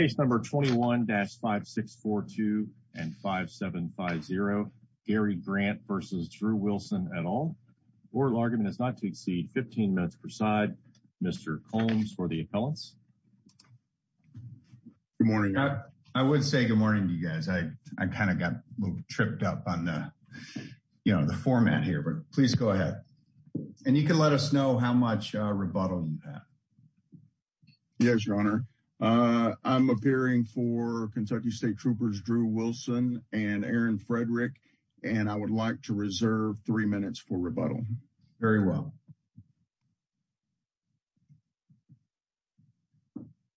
at all, oral argument is not to exceed 15 minutes per side. Mr. Combs for the appellants. Good morning. I would say good morning to you guys. I kind of got tripped up on the, you know, the format here, but please go ahead. And you can let us know how much rebuttal you have. Yes, Your Honor. I'm appearing for Kentucky State Troopers Drew Wilson and Aaron Frederick, and I would like to reserve three minutes for rebuttal. Very well.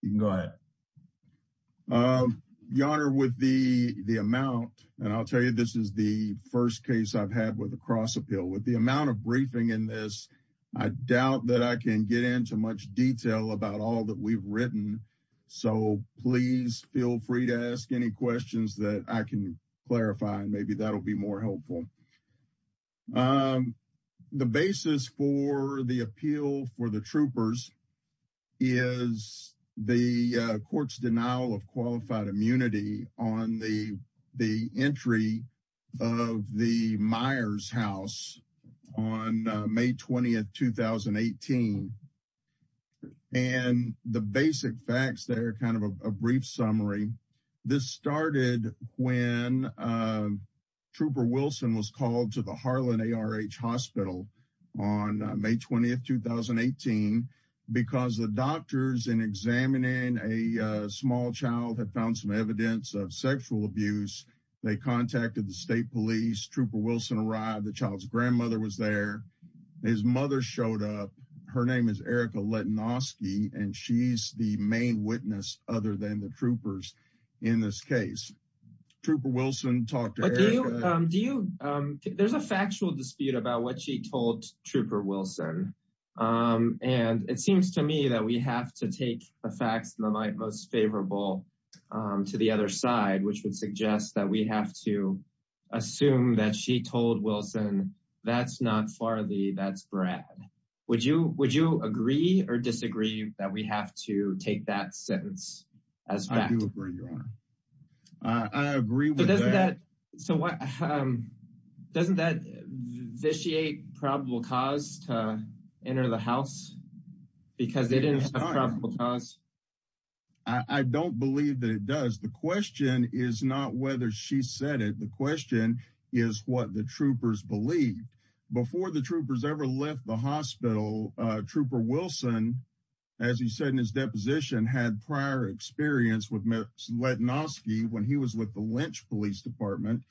You can go ahead. Your Honor, with the amount, and I'll tell you, this is the first case I've had with a cross appeal. With the amount of briefing in this, I doubt that I can get into much detail about all that we've written. So please feel free to ask any questions that I can clarify, and maybe that'll be more helpful. The basis for the appeal for the troopers is the court's denial of qualified immunity on the entry of the Myers house on May 20, 2018. And the basic facts, they're kind of a brief summary. This started when Trooper Wilson was because the doctors in examining a small child had found some evidence of sexual abuse. They contacted the state police. Trooper Wilson arrived. The child's grandmother was there. His mother showed up. Her name is Erica Letnosky, and she's the main witness other than the troopers in this case. Trooper Wilson talked to Erica. There's a factual dispute about what she told Trooper Wilson. And it seems to me that we have to take the facts in the light most favorable to the other side, which would suggest that we have to assume that she told Wilson, that's not Farley, that's Brad. Would you agree or disagree that we have to take that sentence as I agree with that? So what doesn't that vitiate probable cause to enter the house because they didn't have a probable cause? I don't believe that it does. The question is not whether she said it. The question is what the troopers believed before the troopers ever the hospital. Trooper Wilson, as he said in his deposition, had prior experience with Letnosky when he was with the Lynch Police Department.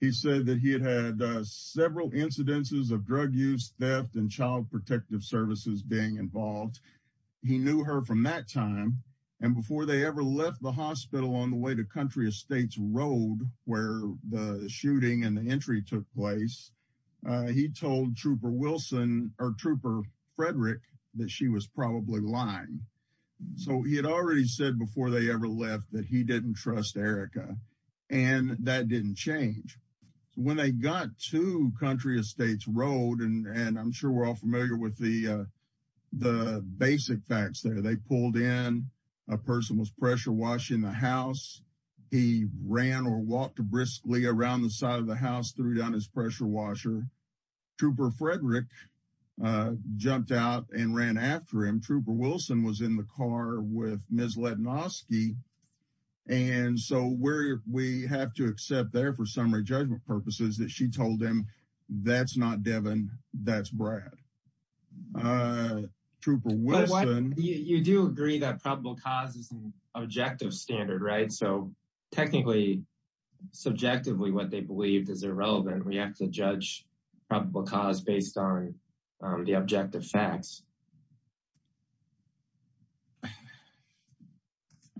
He said that he had had several incidences of drug use, theft, and child protective services being involved. He knew her from that time. And before they ever left the hospital on the way to Country Estates Road, where the shooting and the entry took place, he told Trooper Frederick that she was probably lying. So he had already said before they ever left that he didn't trust Erica. And that didn't change. When they got to Country Estates Road, and I'm sure we're all familiar with the around the side of the house, threw down his pressure washer. Trooper Frederick jumped out and ran after him. Trooper Wilson was in the car with Ms. Letnosky. And so we have to accept there for summary judgment purposes that she told him, that's not Devin, that's Brad. Trooper Wilson. You do agree that probable cause is an objective standard, right? So technically, subjectively, what they believed is irrelevant. We have to judge probable cause based on the objective facts.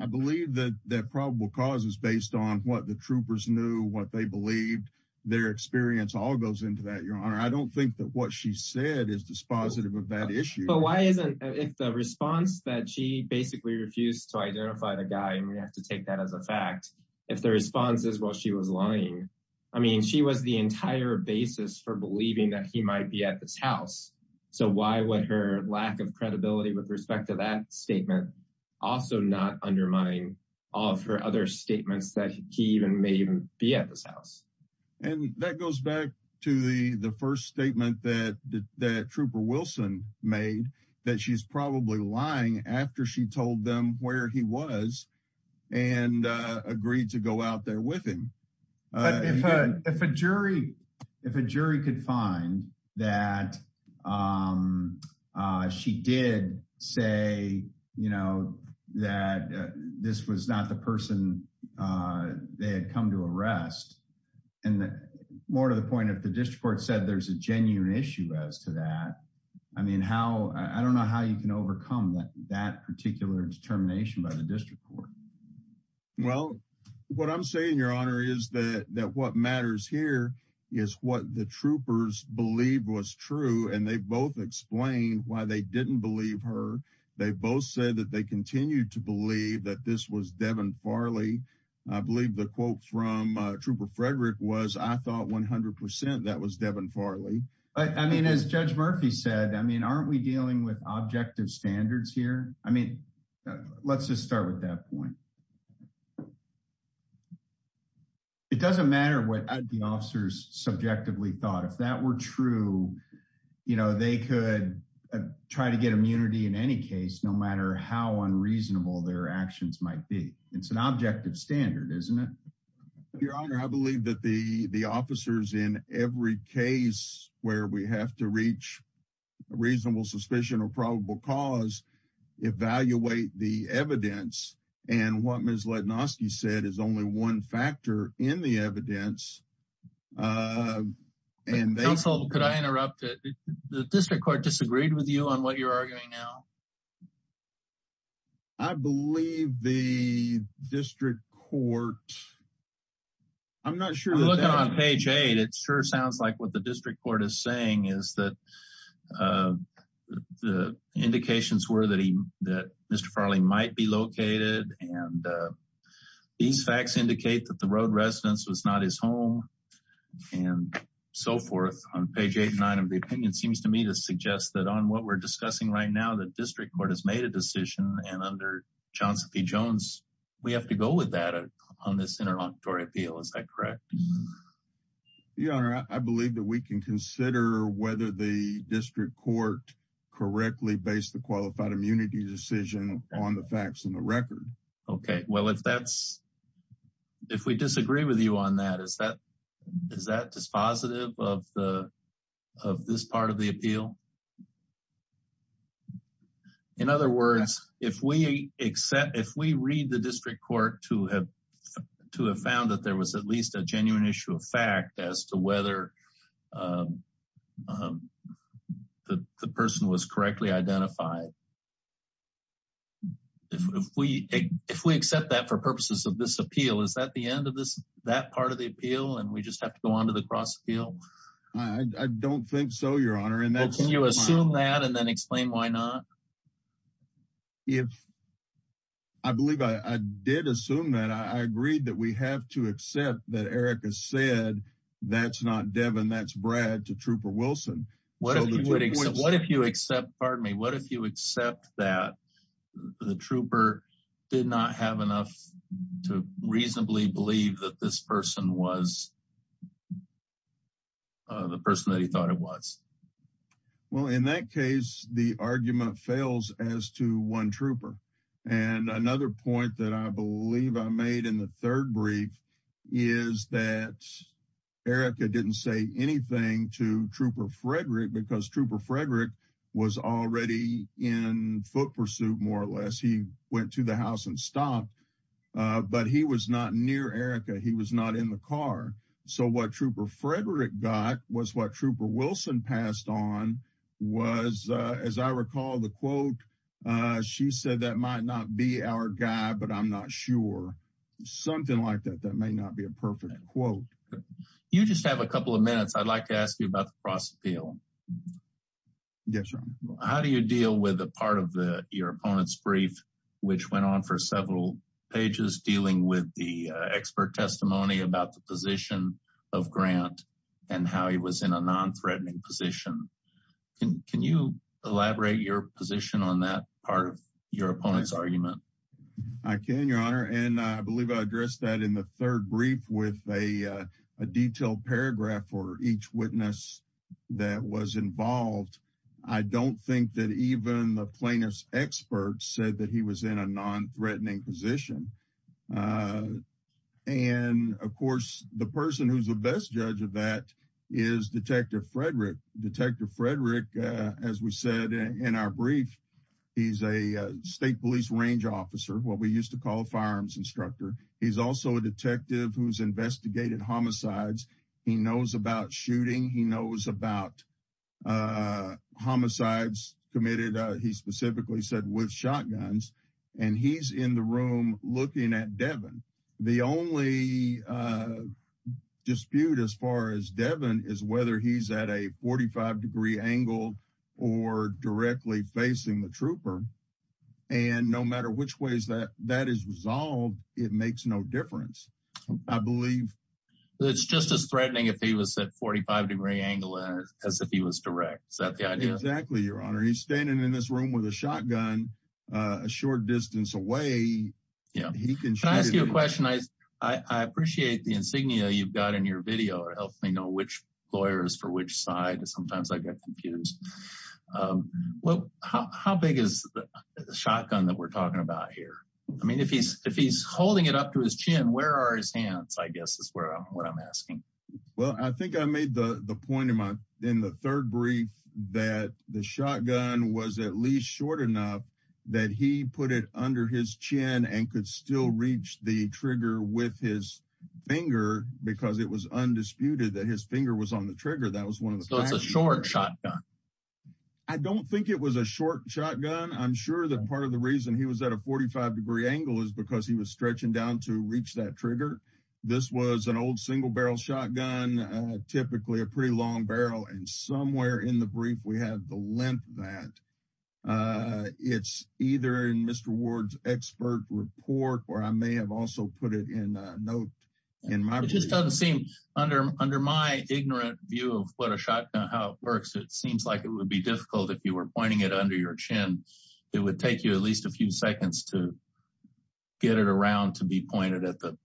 I believe that probable cause is based on what the troopers knew, what they believed. Their experience all goes into that, your honor. I don't think that what she said is dispositive of that response that she basically refused to identify the guy. And we have to take that as a fact. If the response is, well, she was lying. I mean, she was the entire basis for believing that he might be at this house. So why would her lack of credibility with respect to that statement also not undermine all of her other statements that he even may even be at this house? And that goes back to the first statement that Trooper Wilson made, that she's probably lying after she told them where he was and agreed to go out there with him. If a jury could find that she did say, you know, that this was not the person they had come to arrest, and more to the point, if the district court said there's a genuine issue as to that, I mean, I don't know how you can overcome that particular determination by the district court. Well, what I'm saying, your honor, is that what matters here is what the troopers believe was true. And they both explained why they didn't believe her. They both said that they continued to believe that this was Devin Farley. I believe the quote from Trooper Frederick was, I thought 100 percent that was Devin Farley. I mean, as Judge Murphy said, I mean, aren't we dealing with objective standards here? I mean, let's just start with that point. It doesn't matter what the officers subjectively thought. If that were true, you know, they could try to get immunity in any case, no matter how unreasonable their actions might be. It's an objective standard, isn't it? Your honor, I believe that the officers in every case where we have to reach a reasonable suspicion or probable cause, evaluate the evidence. And what Ms. Lednoski said is only one factor in the evidence. Counsel, could I interrupt? The district court disagreed with you on what you're arguing now? I believe the district court, I'm not sure. I'm looking on page eight. It sure sounds like what the district court is saying is that the indications were that Mr. Farley might be located. And these facts indicate that the home and so forth on page eight and nine of the opinion seems to me to suggest that on what we're discussing right now, the district court has made a decision. And under Johnson v. Jones, we have to go with that on this interlocutory appeal. Is that correct? Your honor, I believe that we can consider whether the district court correctly based the qualified immunity decision on the facts and the record. Okay. Well, if we disagree with you on that, is that dispositive of this part of the appeal? In other words, if we read the district court to have found that there was at least a genuine issue of fact as to whether the person was correctly identified. If we accept that for purposes of this appeal, is that the end of this, that part of the appeal, and we just have to go on to the cross appeal? I don't think so, your honor. Well, can you assume that and then explain why not? Well, I believe I did assume that I agreed that we have to accept that Erica said, that's not Devin, that's Brad to Trooper Wilson. What if you accept, pardon me, what if you accept that the trooper did not have enough to reasonably believe that this person was the person that he thought it was? Well, in that case, the argument fails as to one trooper. And another point that I believe I made in the third brief is that Erica didn't say anything to Trooper Frederick because Trooper Frederick was already in foot pursuit more or less. He went to the house and stopped, but he was not near Erica. He was not in the car. So what Trooper Frederick got was what Trooper Wilson passed on was, as I recall, the quote, she said, that might not be our guy, but I'm not sure. Something like that, that may not be a perfect quote. You just have a couple of minutes. I'd like to ask you about the cross appeal. Yes, your honor. How do you deal with a part of the, your opponent's brief, which went on for several pages, dealing with the expert testimony about the position of Grant and how he was in a non-threatening position? Can you elaborate your position on that part of your opponent's argument? I can, your honor. And I believe I addressed that in the third brief with a detailed paragraph for each witness that was involved. I don't think that even the plaintiff's expert said that he was in a non-threatening position. And of course, the person who's the best judge of that is Detective Frederick. Detective Frederick, as we said in our brief, he's a state police range officer, what we used to call a firearms instructor. He's also a detective who's investigated homicides. He knows about shooting. He knows about homicides committed, he specifically said, with shotguns. And he's in the room looking at Devin. The only dispute as far as Devin is whether he's at a 45 degree angle or directly facing the trooper. And no matter which way that is resolved, it makes no difference, I believe. It's just as threatening if he was at 45 degree angle as if he was direct. Is that the idea? Exactly, your honor. He's standing in this room with a shotgun a short distance away. Yeah, can I ask you a question? I appreciate the insignia you've got in your video or help me know which lawyers for which side. Sometimes I get confused. Well, how big is the shotgun that we're talking about here? I mean, if he's holding it up to his chin, where are his hands? I guess is what I'm asking. Well, I think I made the point in the third brief that the shotgun was at least short enough that he put it under his chin and could still reach the trigger with his finger because it was undisputed that his finger was on the trigger. That was one of the short shotgun. I don't think it was a short shotgun. I'm sure that part of the reason he was at a 45 degree angle is because he was stretching down to reach that trigger. This was an old single barrel shotgun, typically a pretty long barrel. And somewhere in the brief, we have the length that it's either in Mr. Ward's expert report, or I may have also put it in a note in my. It just doesn't seem under my ignorant view of what a shotgun, how it works. It seems like it would be difficult if you were pointing it under your chin, it would take you at least a few seconds to get it around to be pointed at the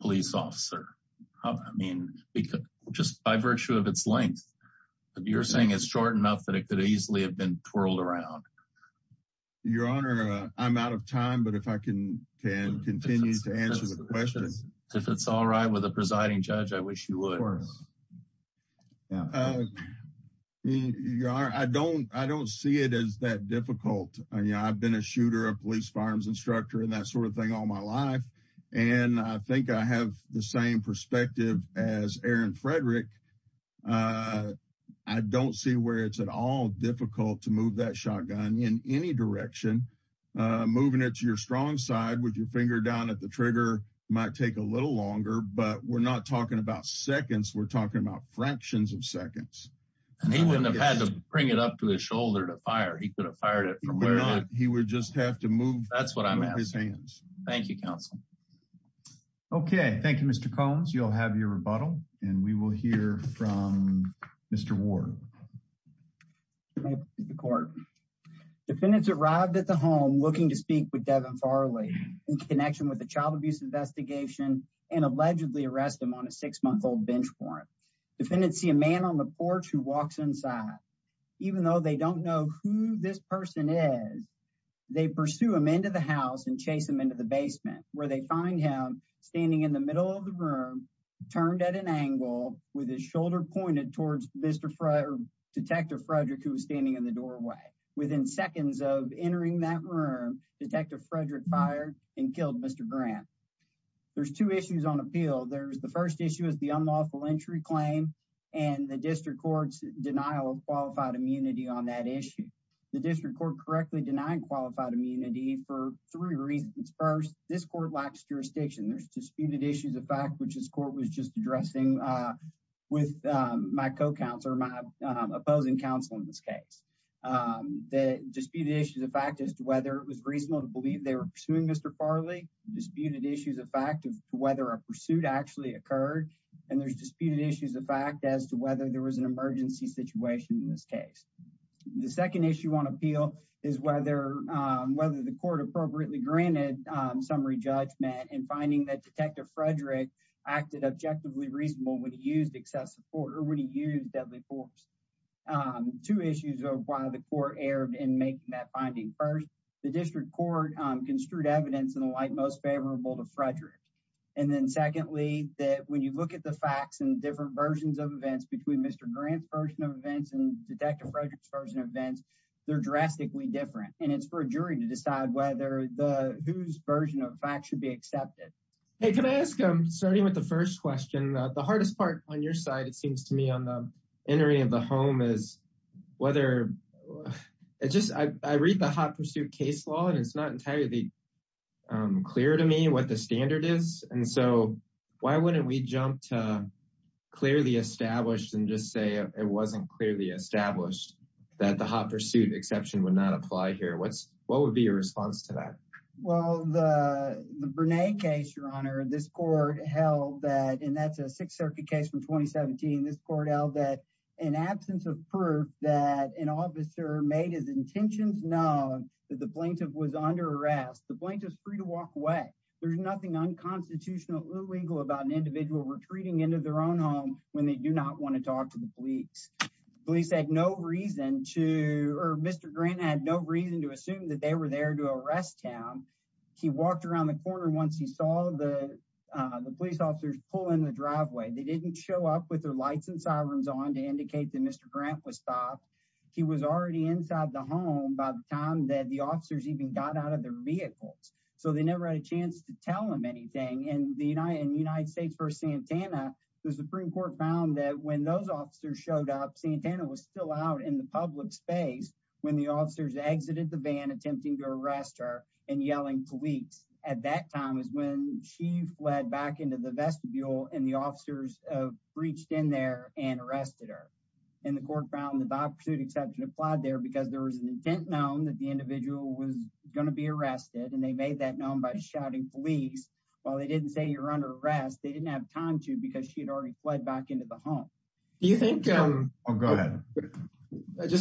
police officer. I mean, just by virtue of its length, you're saying it's short enough that it could easily have been twirled around. Your Honor, I'm out of time, but if I can continue to answer the questions. If it's all right with the presiding judge, I wish you would. I don't see it as that difficult. I've been a shooter, a police firearms instructor and that sort of thing all my life. And I think I have the same perspective as Aaron Frederick. I don't see where it's at all difficult to move that shotgun in any direction, moving it to your strong side with your finger down at the trigger might take a little longer, but we're not talking about seconds. We're talking about fractions of seconds. And he wouldn't have had to bring it up to his shoulder to fire. He could have fired it from where he would just have to move. That's what I'm saying. Thank you, counsel. OK, thank you, Mr. Combs. You'll have your rebuttal and we will hear from Mr. Ward. Defendants arrived at the home looking to speak with Devin Farley in connection with the child abuse investigation and allegedly arrest him on a six month old bench warrant. Defendants see a man on the porch who walks inside. Even though they don't know who this person is, they pursue him into the house and chase him into the basement where they find him standing in the middle of the room, turned at an angle with his shoulder pointed towards Mr. Frederick, Detective Frederick, who was standing in the doorway. Within seconds of entering that room, Detective Frederick fired and killed Mr. Grant. There's two issues on appeal. The first issue is the unlawful entry claim and the district court's denial of qualified immunity on that issue. The district court correctly denied qualified immunity for three reasons. First, this court lacks jurisdiction. There's disputed issues of fact, which this court was just addressing with my co-counsel or my opposing counsel in this case. The disputed issues of fact as to whether it was reasonable to believe they were pursuing Mr. Farley, disputed issues of fact of whether a pursuit actually occurred, and there's disputed issues of fact as to whether there was an emergency situation in this case. The second issue on appeal is whether the court appropriately granted summary judgment in finding that Detective Frederick acted objectively reasonable when he used excessive support or when he used deadly force. Two issues of why the court erred in making that finding. First, the district court construed evidence in the light most favorable to Frederick. And then secondly, that when you look at the facts and different versions of events between Mr. Grant's version of events and Detective Frederick's version of events, they're drastically different. And it's for a jury to decide whether the whose version of facts should be accepted. Hey, can I ask, starting with the first question, the hardest part on your side, it seems to me on the entering of the home is whether it just I read the hot pursuit case law, and it's not entirely clear to me what the standard is. And so why wouldn't we jump to clearly established and just say it wasn't clearly established that the hot pursuit exception would not apply here? What's what would be your response to that? Well, the Bernay case, Your Honor, this court held that and that's a Sixth Circuit case from 2017. This court held that an absence of proof that an officer made his intentions known that the plaintiff was under arrest, the plaintiff is free to walk away. There's nothing unconstitutional, illegal about an individual retreating into their own home when they do not want to talk to the police. Police had no reason to or Mr. Grant had no reason to assume that they were there to arrest him. He walked around the corner once he saw the police officers pull in the driveway. They didn't show up with their lights and sirens on to indicate that Mr. Grant was stopped. He was already inside the home by the time that the officers even got out of their vehicles, so they never had a chance to tell him anything. And the United States v. Santana, the Supreme Court found that when those officers showed up, Santana was still out in the public space when the officers exited the van attempting to arrest her and yelling police. At that time is when she fled back into the vestibule and the officers breached in there and arrested her. And the court found the by-pursuit exception applied there because there was an intent known that the individual was going to be arrested, and they made that known by shouting police. While they didn't say you're under arrest, they didn't have time to because she had already fled back into the home. Do you think, just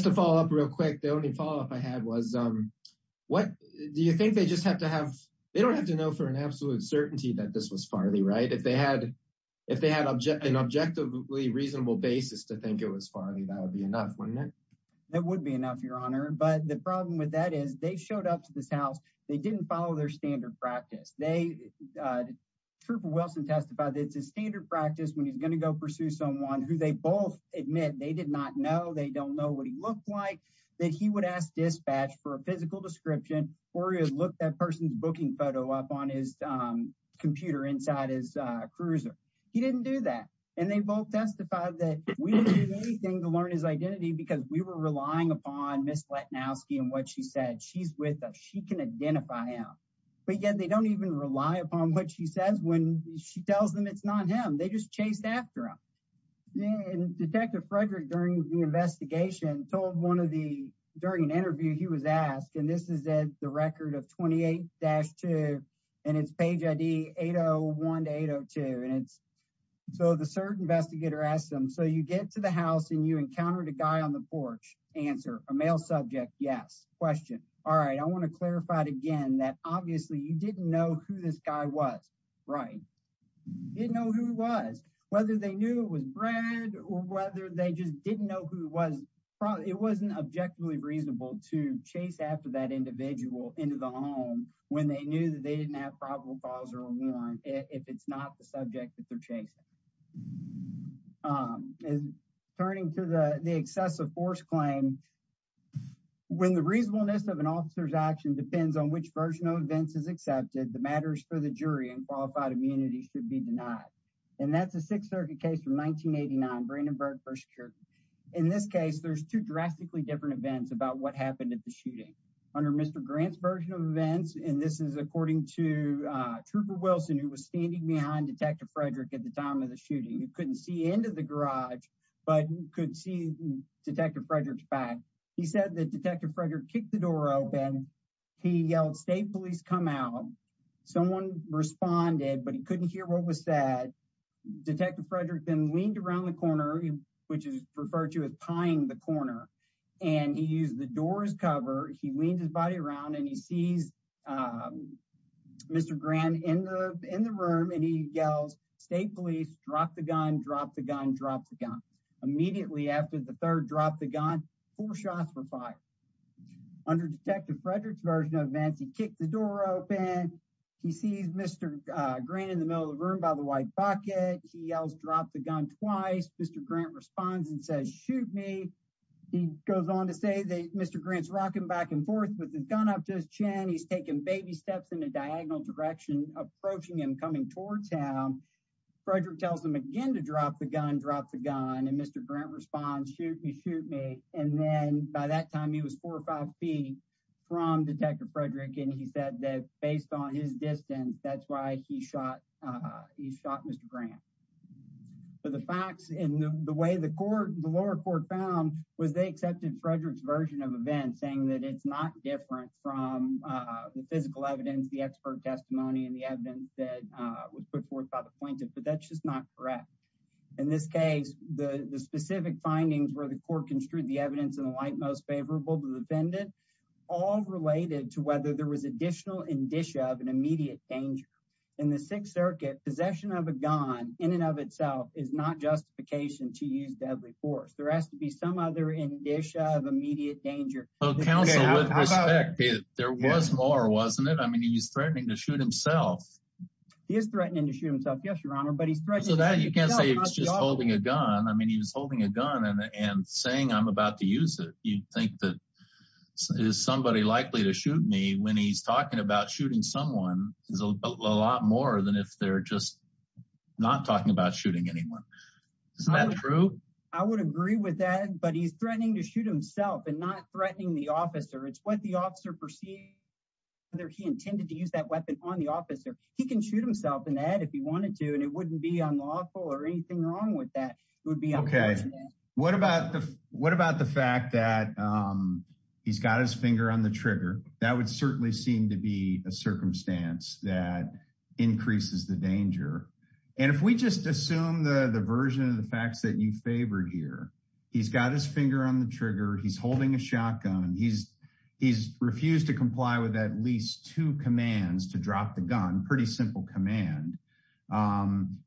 to follow up real quick, the only follow up I had was, do you think they don't have to know for an absolute certainty that this was Farley, right? If they had an objectively reasonable basis to think it was Farley, that would be enough, wouldn't it? That would be enough, Your Honor. But the problem with that is they showed up to this house, they didn't follow their standard practice. Trooper Wilson testified that it's his standard practice when he's going to go pursue someone who they both admit they did not know, they don't know what he looked like, that he would for a physical description, or he would look that person's booking photo up on his computer inside his cruiser. He didn't do that. And they both testified that we didn't do anything to learn his identity because we were relying upon Ms. Letnowski and what she said. She's with us. She can identify him. But yet they don't even rely upon what she says when she tells them it's not him. They just chased after him. Yeah, and Detective Frederick, during the investigation, told one of the, during an interview, he was asked, and this is the record of 28-2, and it's page ID 801-802, and it's, so the search investigator asked him, so you get to the house and you encountered a guy on the porch. Answer, a male subject, yes. Question, all right, I want to clarify it again, that obviously you didn't know who this guy was, right? Didn't know who he was. Whether they knew it was Brad or whether they just didn't know who it was, it wasn't objectively reasonable to chase after that individual into the home when they knew that they didn't have probable cause or a warrant if it's not the subject that they're chasing. Turning to the excessive force claim, when the reasonableness of an officer's action depends on which version of events is accepted, the matters for the jury and qualified immunity should be denied. And that's a Sixth Circuit case from 1989, Brandenburg v. Kirtland. In this case, there's two drastically different events about what happened at the shooting. Under Mr. Grant's version of events, and this is according to Trooper Wilson who was standing behind Detective Frederick at the time of the shooting, he couldn't see into the garage, but could see Detective Frederick's back, he said that Detective Frederick kicked the door open, he yelled, state police, come out. Someone responded, but he couldn't hear what was said. Detective Frederick then leaned around the corner, which is referred to as pying the corner, and he used the door's cover. He leaned his body around and he sees Mr. Grant in the room and he yells, state police, drop the gun, drop the gun, drop the gun. Immediately after the third drop the gun, four shots were fired. Under Detective Frederick's version of events, he kicked the door open, he sees Mr. Grant in the middle of the room by the white bucket, he yells, drop the gun, twice. Mr. Grant responds and says, shoot me. He goes on to say that Mr. Grant's rocking back and forth with his gun up to his chin, he's taking baby steps in a diagonal direction, approaching him, coming towards him. Frederick tells him again to drop the gun, drop the gun, and Mr. Grant responds, shoot me, shoot me. And then by that time he was four or five feet from Detective Frederick and he said that based on his distance, that's why he shot Mr. Grant. But the facts and the way the lower court found was they accepted Frederick's version of events saying that it's not different from the physical evidence, the expert testimony, and the evidence that was put forth by the plaintiff, but that's just not correct. In this case, the specific findings where the court construed the evidence in the light most favorable to the defendant, all related to whether there was additional indicia of an immediate danger. In the Sixth Circuit, possession of a gun, in and of itself, is not justification to use deadly force. There has to be some other indicia of immediate danger. Well, counsel, with respect, there was more, wasn't it? I mean, he's threatening to shoot himself. You can't say he was just holding a gun. I mean, he was holding a gun and saying, I'm about to use it. You'd think that, is somebody likely to shoot me when he's talking about shooting someone is a lot more than if they're just not talking about shooting anyone. Isn't that true? I would agree with that, but he's threatening to shoot himself and not threatening the officer. It's what the officer perceived, whether he intended to use that weapon on the officer. He can shoot himself in the head if he wanted to, and it wouldn't be unlawful or anything wrong with that. It would be unfortunate. What about the fact that he's got his finger on the trigger? That would certainly seem to be a circumstance that increases the danger. And if we just assume the version of the facts that you favored here, he's got his finger on the trigger, he's holding a shotgun, he's refused to comply with at least two commands to drop the gun, pretty simple command.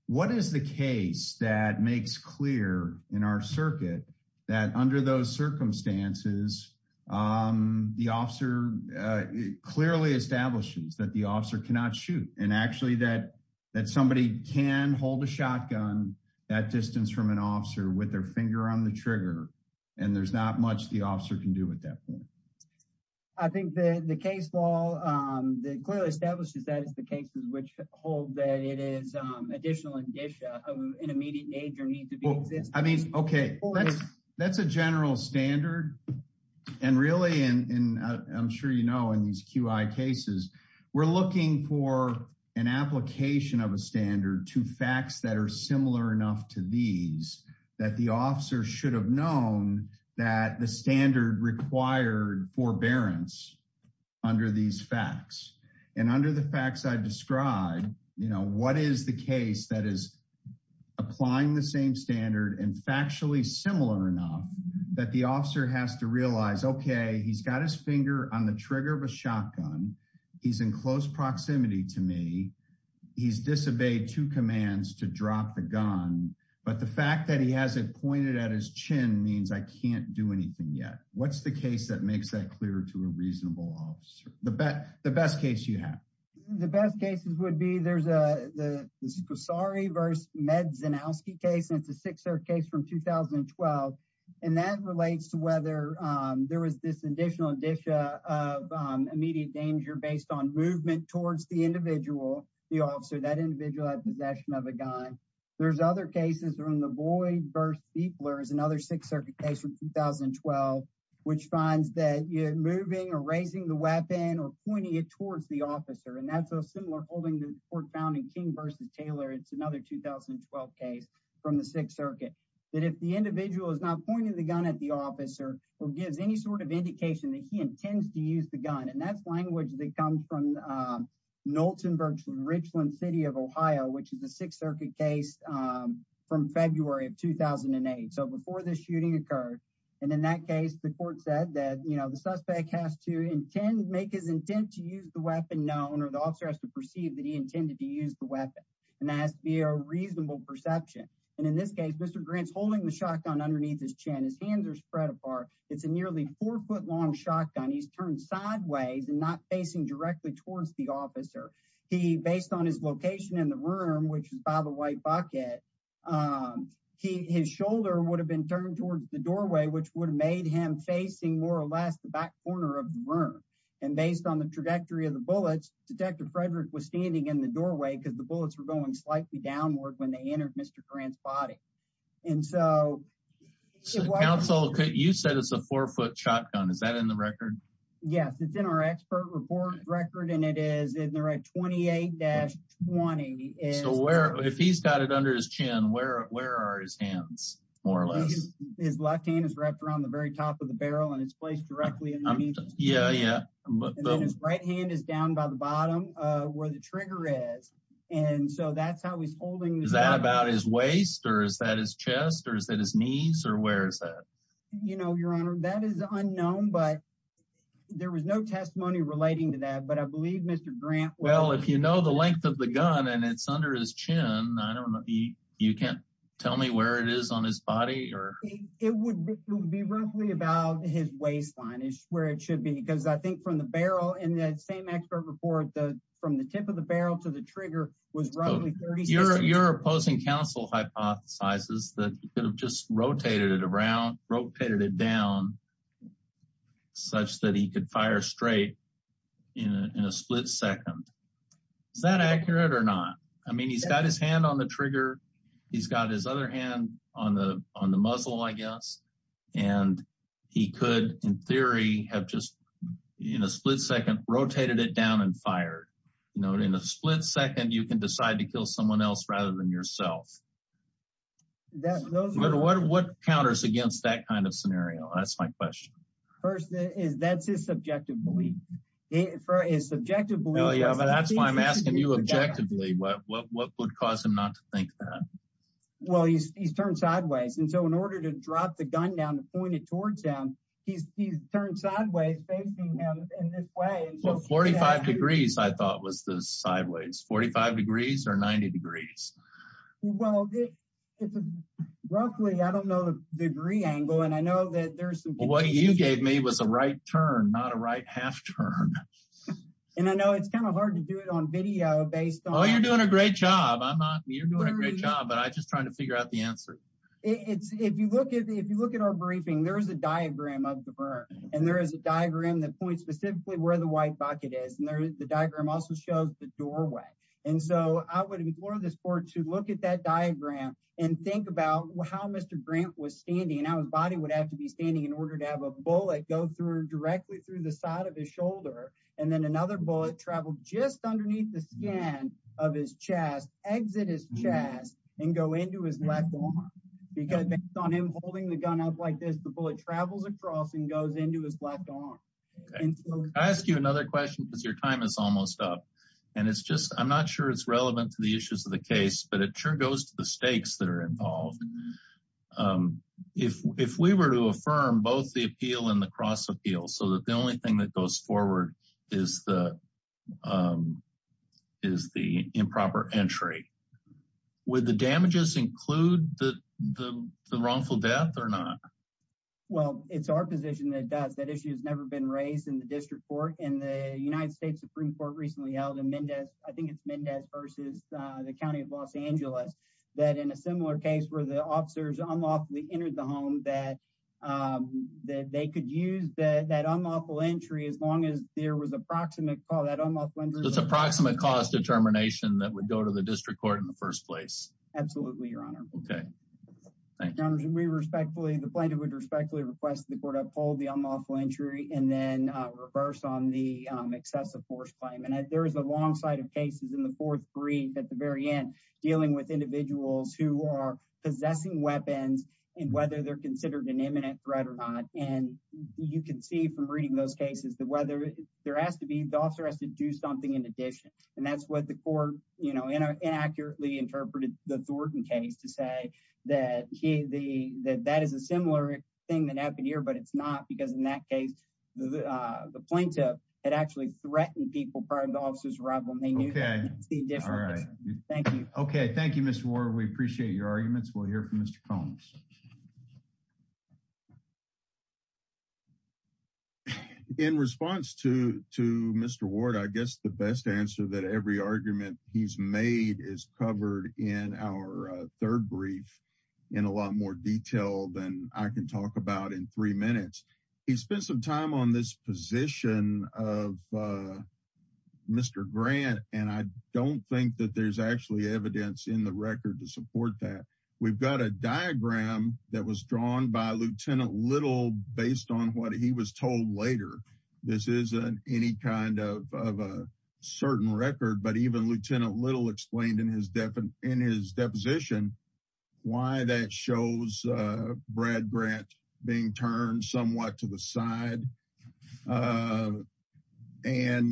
What is the case that makes clear in our circuit that under those circumstances, the officer clearly establishes that the officer cannot shoot and actually that somebody can hold a shotgun that distance from an officer with their finger on the trigger, and there's not much the officer can do at that point. I think the case law clearly establishes that it's the cases which hold that it is additional indicia of an immediate danger need to be existed. I mean, OK, that's a general standard. And really, and I'm sure you know, in these QI cases, we're looking for an application of a standard to facts that are similar enough to these that the officer should have known that the standard required forbearance under these facts. And under the facts I've described, what is the case that is applying the same standard and factually similar enough that the officer has to realize, OK, he's got his finger on the trigger of a shotgun, he's in close proximity to me, he's disobeyed two commands to drop the gun, but the fact that he has it pointed at his chin means I can't do anything yet. What's the case that makes that clear to a reasonable officer? The best case you have? The best cases would be there's a the Scorsari versus Medzianowski case, and it's a six-year case from 2012. And that relates to whether there was this additional indicia of immediate danger based on movement towards the individual, the officer, that individual had possession of a gun. There's other cases in the Boyd versus Buechler is another Sixth Circuit case from 2012, which finds that moving or raising the weapon or pointing it towards the officer. And that's a similar holding the court found in King versus Taylor. It's another 2012 case from the Sixth Circuit that if the individual is not pointing the gun at the officer or gives any sort of indication that he intends to use the gun. And that's language that comes from Noltenburg, Richland City of Ohio, which is a Sixth Circuit case from February of 2008. So before this shooting occurred, and in that case, the court said that, you know, the suspect has to intend make his intent to use the weapon known or the officer has to perceive that he intended to use the weapon. And that has to be a reasonable perception. And in this case, Mr. Grant's holding the shotgun underneath his chin. His hands are spread apart. It's a nearly four foot long shotgun. He's turned sideways and not facing directly towards the officer. He based on his location in the room, which is by the white bucket, his shoulder would have been turned towards the doorway, which would have made him facing more or less the back corner of the room. And based on the trajectory of the bullets, Detective Frederick was standing in the doorway because the bullets were going slightly downward when they entered Mr. Grant's body. And so. Counsel, you said it's a four foot shotgun. Is that in the record? Yes, it's in our expert report record. And it is in the right. Twenty eight dash 20 is where if he's got it under his chin, where where are his hands more or less? His left hand is wrapped around the very top of the barrel and it's placed directly underneath. Yeah, yeah. His right hand is down by the bottom where the trigger is. And so that's how he's holding that about his waist or is that his chest or is that his knees or where is that? Your Honor, that is unknown, but there was no testimony relating to that. But I believe Mr. Grant. Well, if you know the length of the gun and it's under his chin, I don't know if you can tell me where it is on his body or it would be roughly about his waistline is where it should be, because I think from the barrel in that same expert report, the from the tip of the barrel to the trigger was your your opposing counsel hypothesizes that you could rotate it around, rotate it down such that he could fire straight in a split second. Is that accurate or not? I mean, he's got his hand on the trigger. He's got his other hand on the on the muzzle, I guess. And he could, in theory, have just in a split second, rotated it down and fired in a split second. You can decide to kill someone else rather than yourself. That's what counters against that kind of scenario. That's my question. First is that's his subjective belief for his subjective. Well, yeah, but that's why I'm asking you objectively, what would cause him not to think that? Well, he's he's turned sideways. And so in order to drop the gun down to point it towards him, he's he's turned sideways facing him in this way. Well, 45 degrees, I thought was the sideways 45 degrees or 90 degrees. Well, roughly, I don't know the degree angle. And I know that there's what you gave me was a right turn, not a right half turn. And I know it's kind of hard to do it on video based on. Oh, you're doing a great job. I'm not. You're doing a great job. But I just trying to figure out the answer. If you look at if you look at our briefing, there is a diagram of the burn. And there is a diagram that points specifically where the white bucket is. And the diagram also shows the doorway. And so I would implore this board to look at that diagram and think about how Mr. Grant was standing and how his body would have to be standing in order to have a bullet go through directly through the side of his shoulder. And then another bullet traveled just underneath the skin of his chest, exit his chest and go into his left arm. Because on him holding the gun up like this, the bullet travels across and goes into his left arm. I ask you another question because your time is almost up. And it's just I'm not sure it's relevant to the issues of the case, but it sure goes to the stakes that are involved. If if we were to affirm both the appeal and the cross appeal so that the only thing that goes forward is the is the improper entry with the damages include the the wrongful death or not? Well, it's our position that does. That issue has never been raised in the district court and the United States Supreme Court recently held in Mendez. I think it's Mendez versus the county of Los Angeles that in a similar case where the officers unlawfully entered the home that that they could use that unlawful entry as long as there was a proximate call that unlawful. It's approximate cause determination that would go to the district court in the first place. Absolutely, Your Honor. OK, thank you. We respectfully the plaintiff would respectfully request the court uphold the unlawful entry and then reverse on the excessive force claim. And there is a long side of cases in the fourth brief at the very end dealing with individuals who are possessing weapons and whether they're considered an imminent threat or not. And you can see from reading those cases that whether there has to be the officer has to do something in addition. And that's what the court, you know, inaccurately interpreted the Thornton case to say that that is a similar thing that happened here. But it's not because in that case, the plaintiff had actually threatened people prior to the officer's arrival. And they knew that. Thank you. OK, thank you, Mr. Ward. We appreciate your arguments. We'll hear from Mr. Combs. In response to Mr. Ward, I guess the best answer that every argument he's made is covered in our third brief in a lot more detail than I can talk about in three minutes. He spent some time on this position of Mr. Grant, and I don't think that there's actually evidence in the record to support that. We've got a diagram that was drawn by Lieutenant Little based on what he was told later. This isn't any kind of a certain record. But even Lieutenant Little explained in his in his deposition why that shows Brad Grant being turned somewhat to the side. And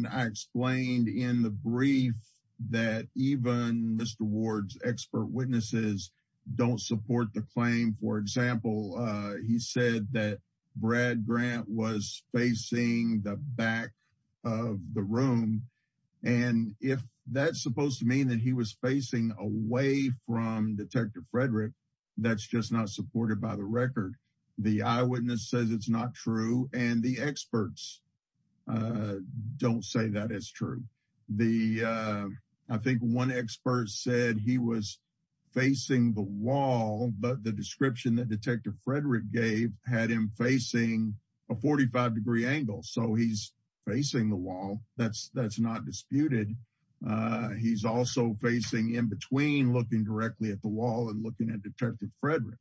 I explained in the brief that even Mr. Ward's expert witnesses don't support the claim. For example, he said that Brad Grant was facing the back of the room. And if that's supposed to mean that he was facing away from Detective Frederick, that's just not supported by the record. The eyewitness says it's not true. And the experts don't say that is true. The I think one expert said he was facing the wall, but the description that Detective Frederick gave had him facing a 45 degree angle. So he's facing the wall. That's that's not disputed. He's also facing in between looking directly at the wall and looking at Detective Frederick.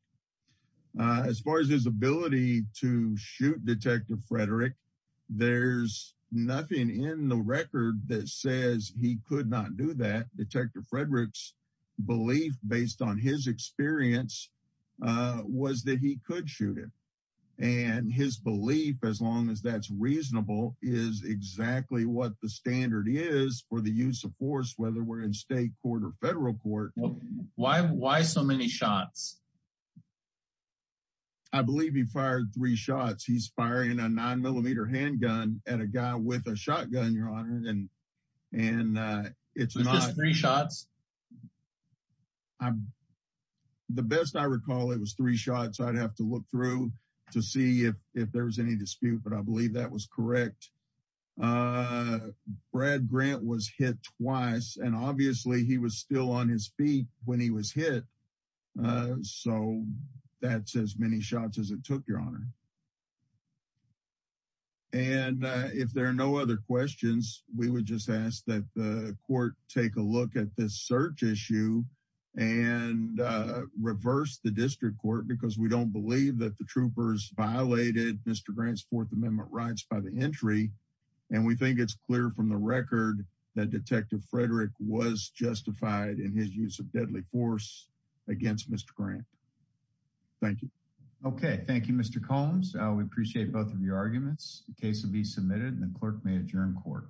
As far as his ability to shoot Detective Frederick, there's nothing in the record that says he could not do that. Detective Frederick's belief, based on his experience, was that he could shoot it. And his belief, as long as that's reasonable, is exactly what the standard is for the use of force, whether we're in state court or federal court. Why so many shots? I believe he fired three shots. He's firing a nine millimeter handgun at a guy with a shotgun, your honor. And and it's three shots. The best I recall, it was three shots. I'd have to look through to see if if there was any dispute. But I believe that was correct. Uh, Brad Grant was hit twice, and obviously he was still on his feet when he was hit. So that's as many shots as it took, your honor. And if there are no other questions, we would just ask that the court take a look at this search issue and reverse the district court, because we don't believe that the troopers violated Mr. Grant's Fourth Amendment rights by the entry. And we think it's clear from the record that Detective Frederick was justified in his use of deadly force against Mr. Grant. Thank you. Okay, thank you, Mr. Combs. We appreciate both of your arguments. The case will be submitted and the clerk may adjourn court.